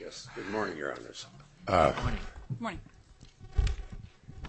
Yes, good morning, your honors. Good morning.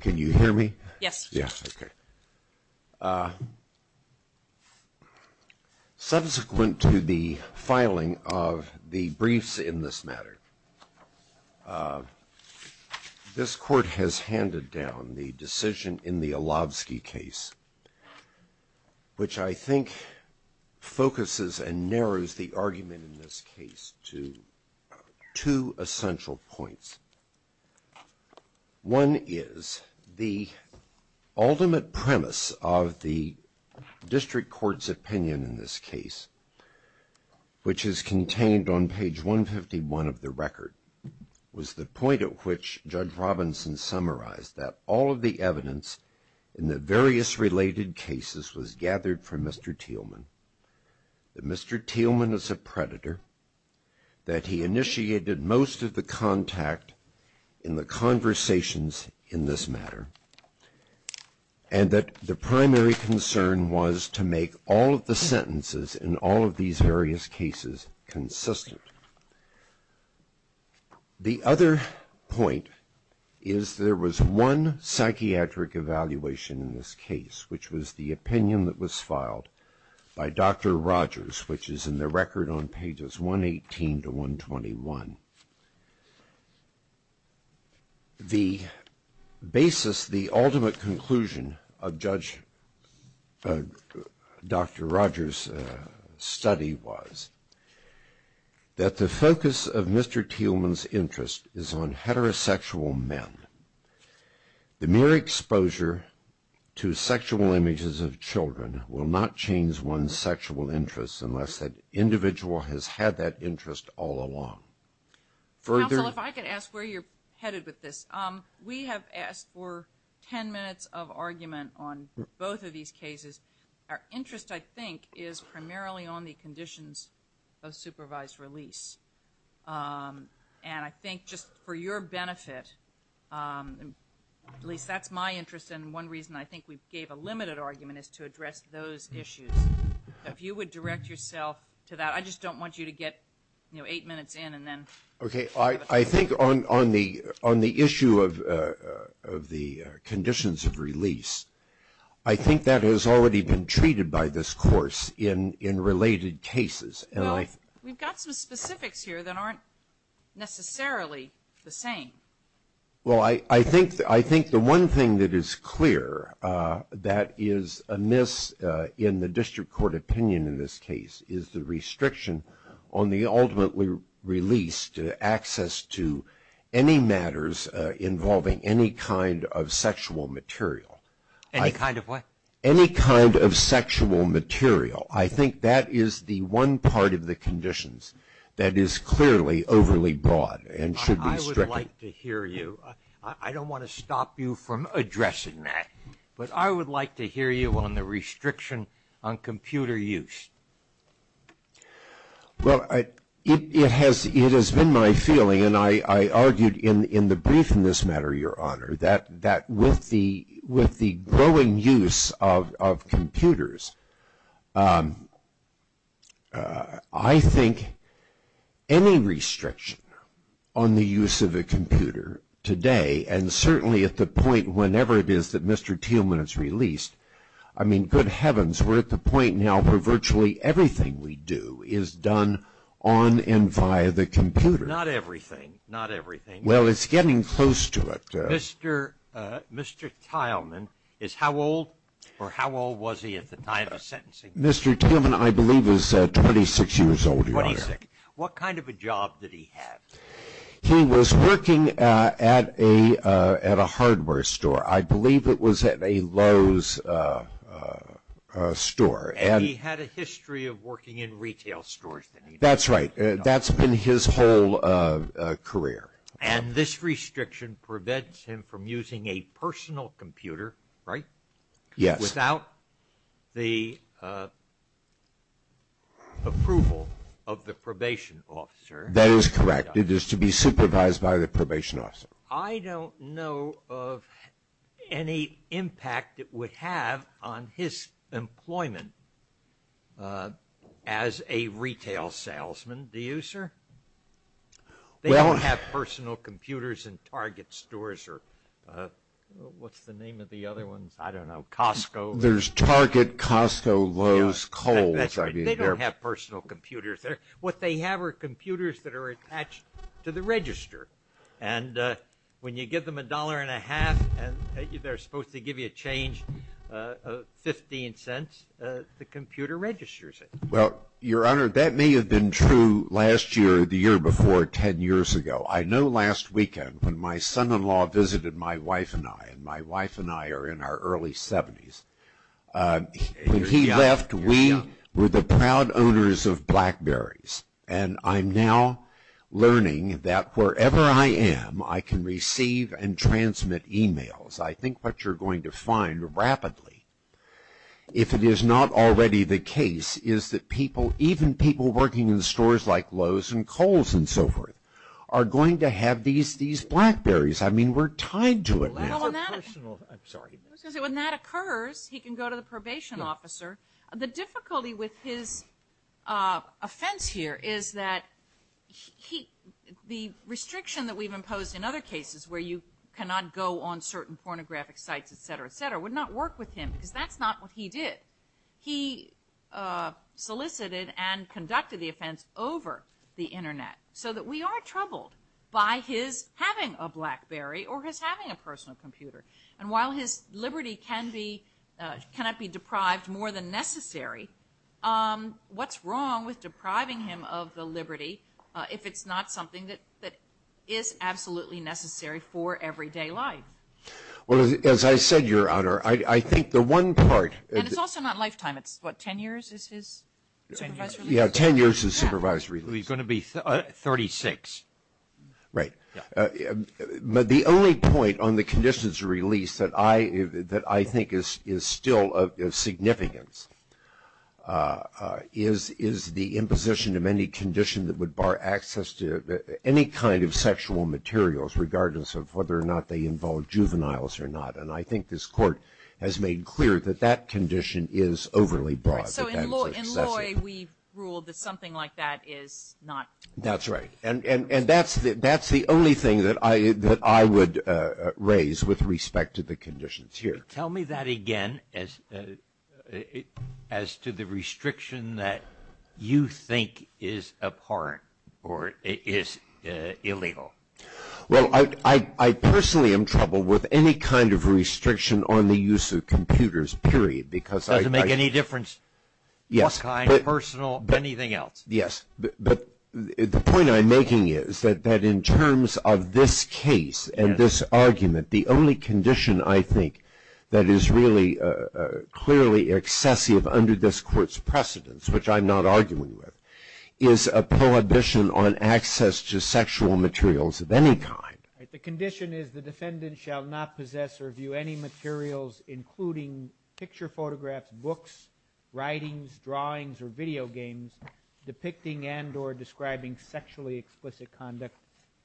Can you hear me? Yes. Yes, okay. Subsequent to the filing of the briefs in this matter, this court has handed down the decision in the Alovsky case, which I think focuses and narrows the argument in this case to two essential points. One is the ultimate premise of the district court's opinion in this case, which is contained on page 151 of the record, was the point at which Judge Robinson summarized that all of the evidence in the various related cases was gathered from Mr. Thielemann, that Mr. Thielemann is a predator, that he initiated most of the contact in the conversations in this matter, and that the primary concern was to make all of the sentences in all of these various cases consistent. The other point is there was one psychiatric evaluation in this case, which was the opinion that was filed by Dr. Rogers, which is in the record on pages 118 to 121. The basis, the ultimate conclusion of Dr. Rogers' study was that the focus of Mr. Thielemann's interest is on heterosexual men. The mere exposure to sexual images of children will not change one's sexual interests unless that individual has had that interest all along. Counsel, if I could ask where you're headed with this. We have asked for ten minutes of argument on both of these cases. Our interest, I think, is primarily on the conditions of supervised release. And I think just for your benefit, at least that's my interest, and one reason I think we gave a limited argument is to address those issues. If you would direct yourself to that. I just don't want you to get eight minutes in and then... I think on the issue of the conditions of release, I think that has already been treated by this course in related cases. Well, we've got some specifics here that aren't necessarily the same. Well I think the one thing that is clear that is amiss in the district court opinion in this case is the restriction on the ultimately released access to any matters involving any kind of sexual material. Any kind of what? Any kind of sexual material. I think that is the one part of the conditions that is clearly overly broad and should be stricken. I would like to hear you. I don't want to stop you from addressing that. But I would like to hear you on the restriction on computer use. Well, it has been my feeling, and I argued in the brief in this matter, Your Honor, that with the growing use of computers, I think any restriction on the use of a computer today and certainly at the point whenever it is that Mr. Teelman is released, I mean good heavens we're at the point now where virtually everything we do is done on and via the computer. Not everything. Not everything. Well it's getting close to it. Mr. Teilman is how old or how old was he at the time of sentencing? Mr. Teilman, I believe, is 26 years old, Your Honor. What kind of a job did he have? He was working at a hardware store. I believe it was at a Lowe's store. And he had a history of working in retail stores. That's right. That's been his whole career. And this restriction prevents him from using a personal computer, right? Yes. Without the approval of the probation officer. That is correct. It is to be supervised by the probation officer. I don't know of any impact it would have on his employment as a retail salesman. Do you, sir? They don't have personal computers in Target stores or what's the name of the other ones? I don't know. Costco. There's Target, Costco, Lowe's, Kohl's. They don't have personal computers there. What they have are computers that are attached to the register. And when you give them a dollar and a half and they're supposed to give you a change of 15 cents, the computer registers it. Well, Your Honor, that may have been true last year, the year before, ten years ago. I know last weekend when my son-in-law visited my wife and I, and my wife and I are in our early 70s, when he left, we were the proud owners of BlackBerrys. And I'm now learning that wherever I am, I can receive and transmit e-mails. I think what you're going to find rapidly, if it is not already the case, is that people, even people working in stores like Lowe's and Kohl's and so forth, are going to have these BlackBerrys. I mean, we're tied to it now. Well, that's a personal... I'm sorry. I was going to say, when that occurs, he can go to the probation officer. The difficulty with his offense here is that the restriction that we've imposed in other cases where you cannot go on certain pornographic sites, et cetera, et cetera, would not work with him because that's not what he did. He solicited and conducted the offense over the internet so that we are troubled by his having a personal computer. And while his liberty cannot be deprived more than necessary, what's wrong with depriving him of the liberty if it's not something that is absolutely necessary for everyday life? Well, as I said, Your Honor, I think the one part... And it's also not lifetime. It's what? Ten years is his supervisory? Ten years. Yeah. Ten years his supervisory. He's going to be 36. Right. Yeah. The only point on the conditions of release that I think is still of significance is the imposition of any condition that would bar access to any kind of sexual materials regardless of whether or not they involve juveniles or not. And I think this Court has made clear that that condition is overly broad, that that is excessive. Right. So in Loy, we ruled that something like that is not... That's right. And that's the only thing that I would raise with respect to the conditions here. Tell me that again as to the restriction that you think is a part or is illegal. Well, I personally am troubled with any kind of restriction on the use of computers, period, because I... Does it make any difference what kind, personal, anything else? Yes. But the point I'm making is that in terms of this case and this argument, the only condition I think that is really clearly excessive under this Court's precedence, which I'm not arguing with, is a prohibition on access to sexual materials of any kind. Right. The condition is the defendant shall not possess or view any materials including picture photographs, books, writings, drawings, or video games depicting and or describing sexually explicit conduct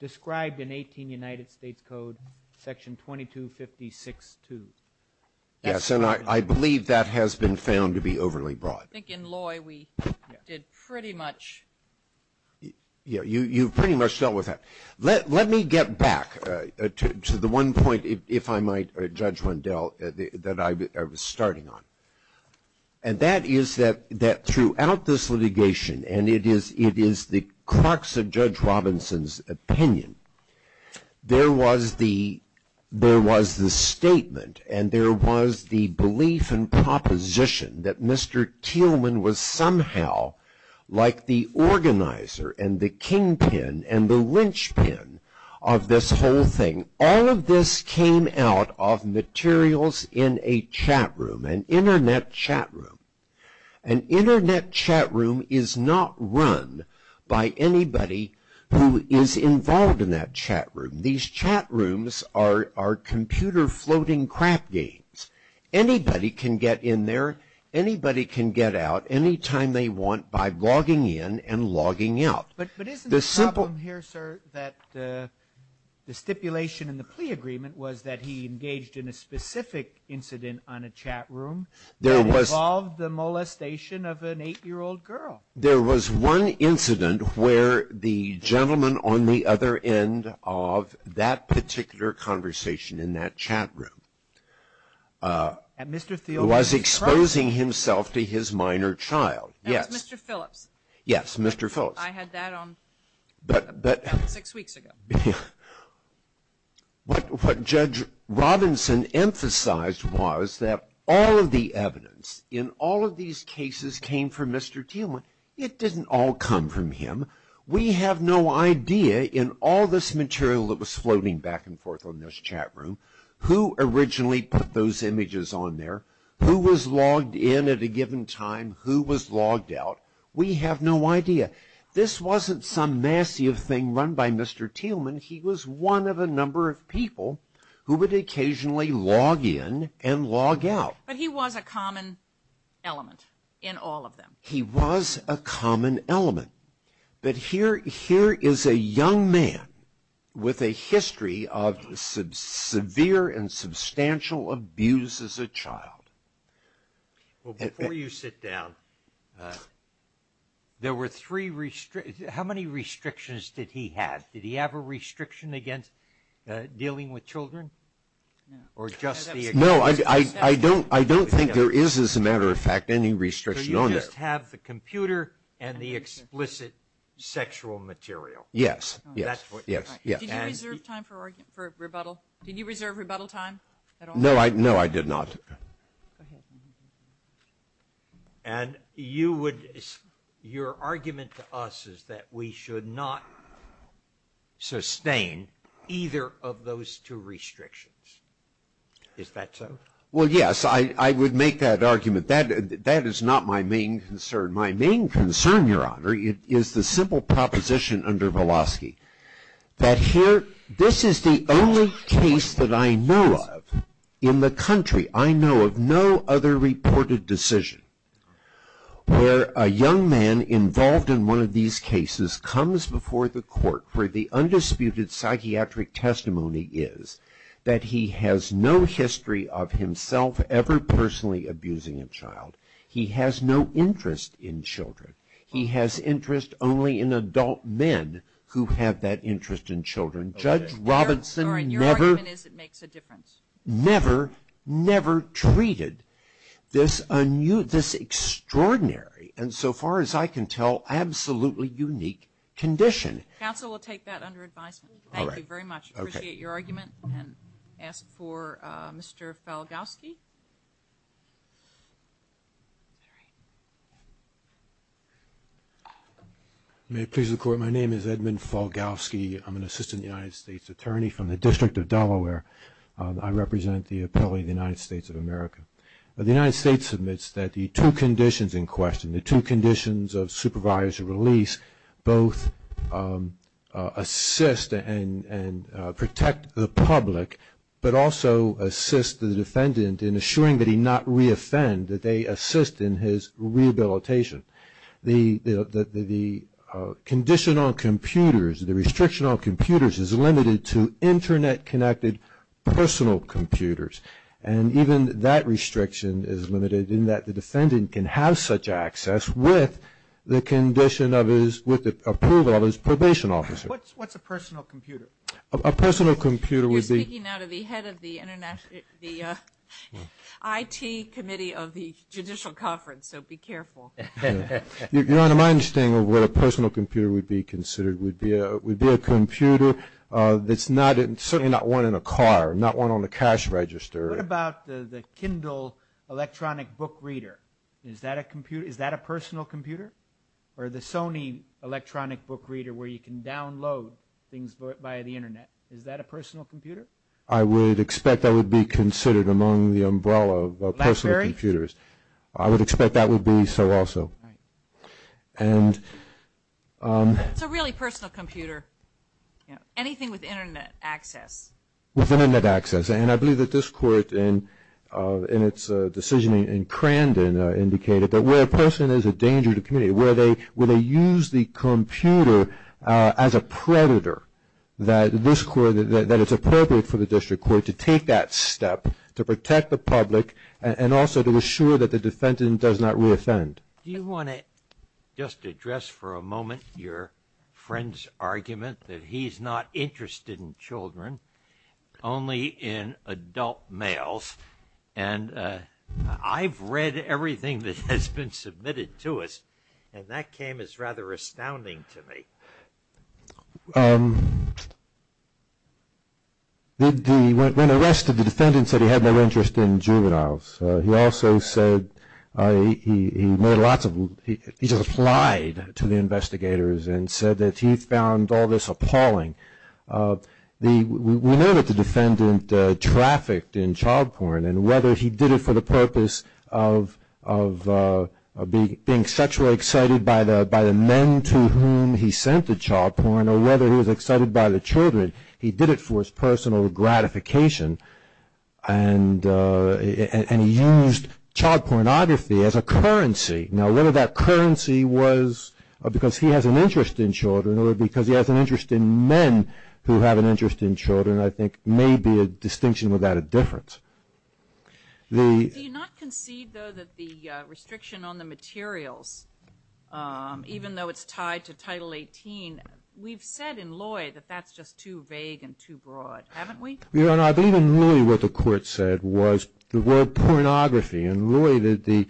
described in 18 United States Code, Section 2256-2. Yes. And I believe that has been found to be overly broad. I think in Loy, we did pretty much... Yeah. You've pretty much dealt with that. Let me get back to the one point, if I might, Judge Wendell, that I was starting on. And that is that throughout this litigation, and it is the crux of Judge Robinson's opinion, there was the statement and there was the belief and proposition that Mr. Teelman was somehow like the organizer and the kingpin and the linchpin of this whole thing. All of this came out of materials in a chat room, an internet chat room. An internet chat room is not run by anybody who is involved in that chat room. These chat rooms are computer floating crap games. Anybody can get in there, anybody can get out anytime they want by logging in and logging out. But isn't the problem here, sir, that the stipulation in the plea agreement was that he engaged in a specific incident on a chat room that involved the molestation of an eight-year-old girl? There was one incident where the gentleman on the other end of that particular conversation in that chat room was exposing himself to his minor child. That's Mr. Phillips. Yes, Mr. Phillips. I had that on six weeks ago. What Judge Robinson emphasized was that all of the evidence in all of these cases came from Mr. Teelman. It didn't all come from him. We have no idea in all this material that was floating back and forth in this chat room who originally put those images on there, who was logged in at a given time, who was logged out. We have no idea. This wasn't some massive thing run by Mr. Teelman. He was one of a number of people who would occasionally log in and log out. But he was a common element in all of them. He was a common element. But here is a young man with a history of severe and substantial abuse as a child. Well, before you sit down, there were three – how many restrictions did he have? Did he have a restriction against dealing with children? Or just the – No, I don't think there is, as a matter of fact, any restriction on that. He must have the computer and the explicit sexual material. Yes. Yes. Yes. Yes. Did you reserve time for rebuttal? Did you reserve rebuttal time at all? No, I – no, I did not. And you would – your argument to us is that we should not sustain either of those two restrictions. Is that so? Well, yes. I would make that argument. But that is not my main concern. My main concern, Your Honor, is the simple proposition under Velosky, that here – this is the only case that I know of in the country, I know of no other reported decision, where a young man involved in one of these cases comes before the court where the undisputed child. He has no interest in children. He has interest only in adult men who have that interest in children. Judge Robinson never – Sorry. Your argument is it makes a difference. Never, never treated this extraordinary and, so far as I can tell, absolutely unique condition. Counsel will take that under advisement. All right. Thank you very much. Okay. I appreciate your argument and ask for Mr. Falgowski. May it please the Court, my name is Edmund Falgowski. I'm an assistant United States attorney from the District of Delaware. I represent the appellee of the United States of America. The United States admits that the two conditions in question, the two conditions of supervisory release, both assist and protect the public, but also assist the defendant in assuring that he not re-offend, that they assist in his rehabilitation. The condition on computers, the restriction on computers is limited to internet-connected personal computers, and even that restriction is limited in that the defendant can have such access with the condition of his – with the approval of his probation officer. What's a personal computer? A personal computer would be – You're speaking now to the head of the IT Committee of the Judicial Conference, so be careful. Your Honor, my understanding of what a personal computer would be considered would be a computer that's not – certainly not one in a car, not one on a cash register. What about the Kindle electronic book reader? Is that a computer – is that a personal computer? Or the Sony electronic book reader where you can download things by the internet, is that a personal computer? I would expect that would be considered among the umbrella of personal computers. I would expect that would be so also. And – It's a really personal computer. Anything with internet access. With internet access. And I believe that this Court in its decision in Crandon indicated that where a person is a danger to the community, where they use the computer as a predator, that this Court – that it's appropriate for the District Court to take that step to protect the public and also to assure that the defendant does not reoffend. Do you want to just address for a moment your friend's argument that he's not interested in children, only in adult males? And I've read everything that has been submitted to us, and that came as rather astounding to me. When the rest of the defendants said he had no interest in juveniles, he also said – he made lots of – he just lied to the investigators and said that he found all this appalling. We know that the defendant trafficked in child porn, and whether he did it for the purpose of being sexually excited by the men to whom he sent the child porn or whether he was excited by the children, he did it for his personal gratification, and he used child pornography as a currency. Now, whether that currency was because he has an interest in children or because he has an interest in men who have an interest in children, I think, may be a distinction without a difference. Do you not concede, though, that the restriction on the materials, even though it's tied to Title 18, we've said in Lloyd that that's just too vague and too broad, haven't we? Your Honor, I believe in Lloyd what the Court said was the word pornography, and Lloyd, the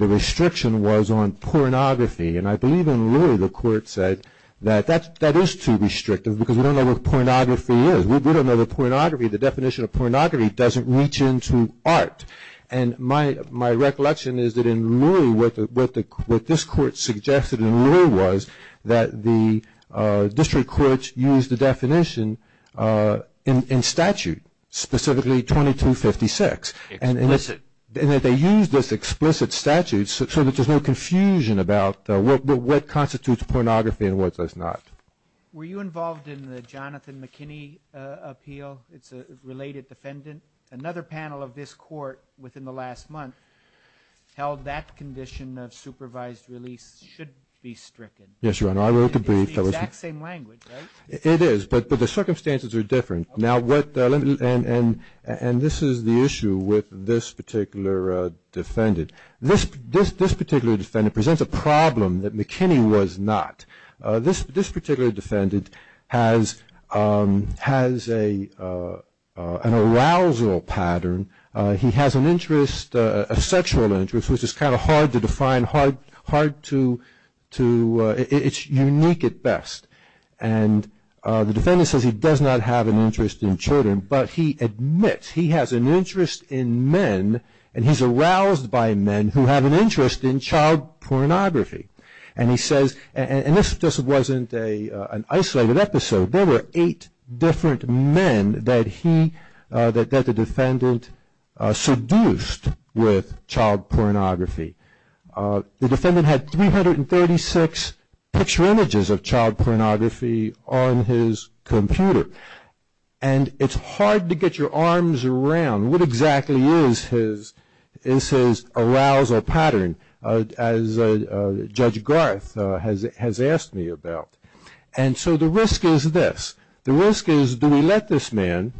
restriction was on pornography, and I believe in Lloyd the Court said that that is too restrictive because we don't know what pornography is. We don't know the definition of pornography doesn't reach into art, and my recollection is that in Lloyd, what this Court suggested in Lloyd was that the District Courts used the definition in statute, specifically 2256. Explicit. And that they used this explicit statute so that there's no confusion about what constitutes pornography and what does not. Were you involved in the Jonathan McKinney appeal? It's a related defendant. Another panel of this Court within the last month held that condition of supervised release should be stricken. Yes, Your Honor. I wrote a brief that was... It's the exact same language, right? It is, but the circumstances are different. Now, what... And this is the issue with this particular defendant. This particular defendant presents a problem that McKinney was not. This particular defendant has an arousal pattern. He has an interest, a sexual interest, which is kind of hard to define, hard to... It's unique at best. And the defendant says he does not have an interest in children, but he admits he has an interest in men, and he's aroused by men who have an interest in child pornography. And he says... And this just wasn't an isolated episode. There were eight different men that he, that the defendant seduced with child pornography. The defendant had 336 picture images of child pornography on his computer. And it's hard to get your arms around what exactly is his arousal pattern, as Judge Garth has asked me about. And so the risk is this. The risk is do we let this man,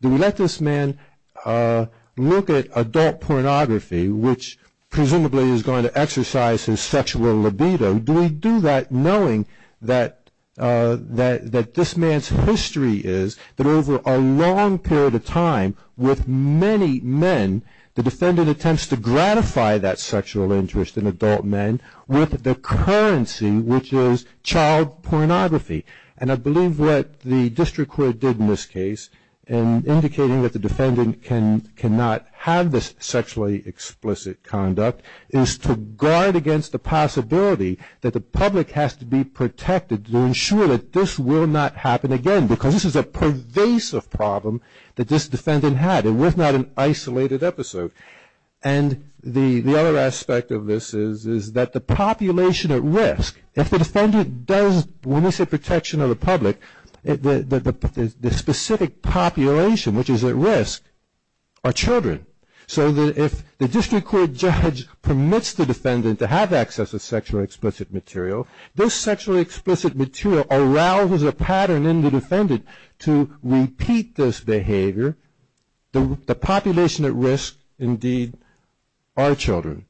do we let this man look at adult pornography, which presumably is going to exercise his sexual libido, do we do that knowing that this man's history is that over a long period of time with many men, the defendant attempts to gratify that sexual interest in adult men with the currency, which is child pornography. And I believe what the district court did in this case in indicating that the defendant cannot have this sexually explicit conduct, is to guard against the possibility that the public has to be protected to ensure that this will not happen again, because this is a pervasive problem that this defendant had, and was not an isolated episode. And the other aspect of this is that the population at risk, if the defendant does, when we say population, which is at risk, are children. So if the district court judge permits the defendant to have access to sexually explicit material, this sexually explicit material arouses a pattern in the defendant to repeat this behavior. The population at risk, indeed, are children.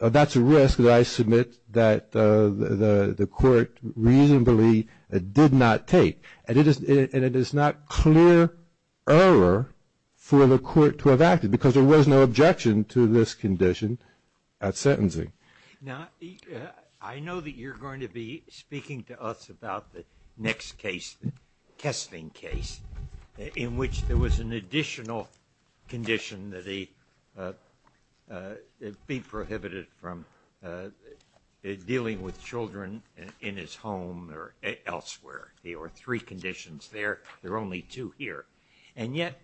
That's a risk that I submit that the court reasonably did not take. And it is not clear error for the court to have acted, because there was no objection to this condition at sentencing. Now, I know that you're going to be speaking to us about the next case, the Kessling case, in which there was an additional condition that he be prohibited from dealing with children in his home or elsewhere. There were three conditions there. There are only two here. And yet,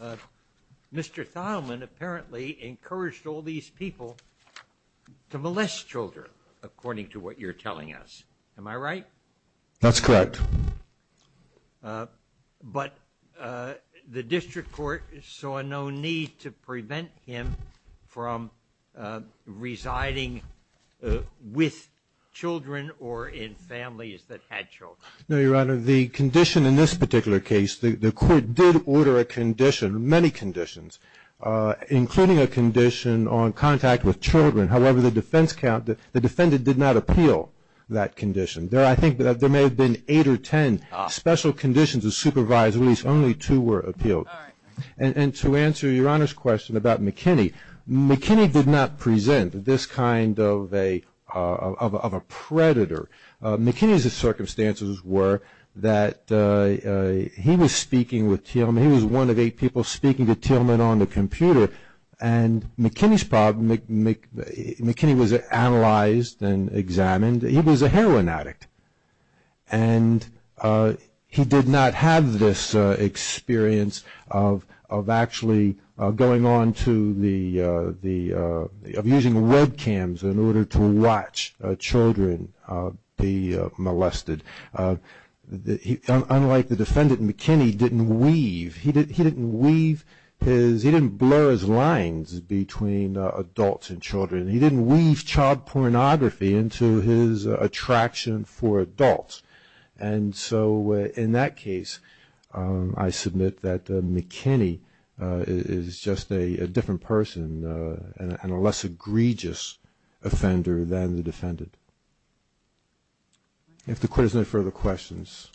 Mr. Thielman apparently encouraged all these people to molest children, according to what you're telling us. Am I right? That's correct. But the district court saw no need to prevent him from residing with children or in families that had children. No, Your Honor. The condition in this particular case, the court did order a condition, many conditions, including a condition on contact with children. However, the defendant did not appeal that condition. There may have been eight or ten special conditions to supervise, at least only two were appealed. And to answer Your Honor's question about McKinney, McKinney did not present this kind of a predator. McKinney's circumstances were that he was speaking with Thielman, he was one of eight people speaking to Thielman on the computer, and McKinney's problem, McKinney was analyzed and examined. He was a heroin addict. And he did not have this experience of actually going on to the, of using webcams in order to watch children be molested. Unlike the defendant, McKinney didn't weave, he didn't weave his, he didn't blur his lines between adults and children. He didn't weave child pornography into his attraction for adults. And so in that case, I submit that McKinney is just a different person and a less egregious offender than the defendant. If the court has no further questions.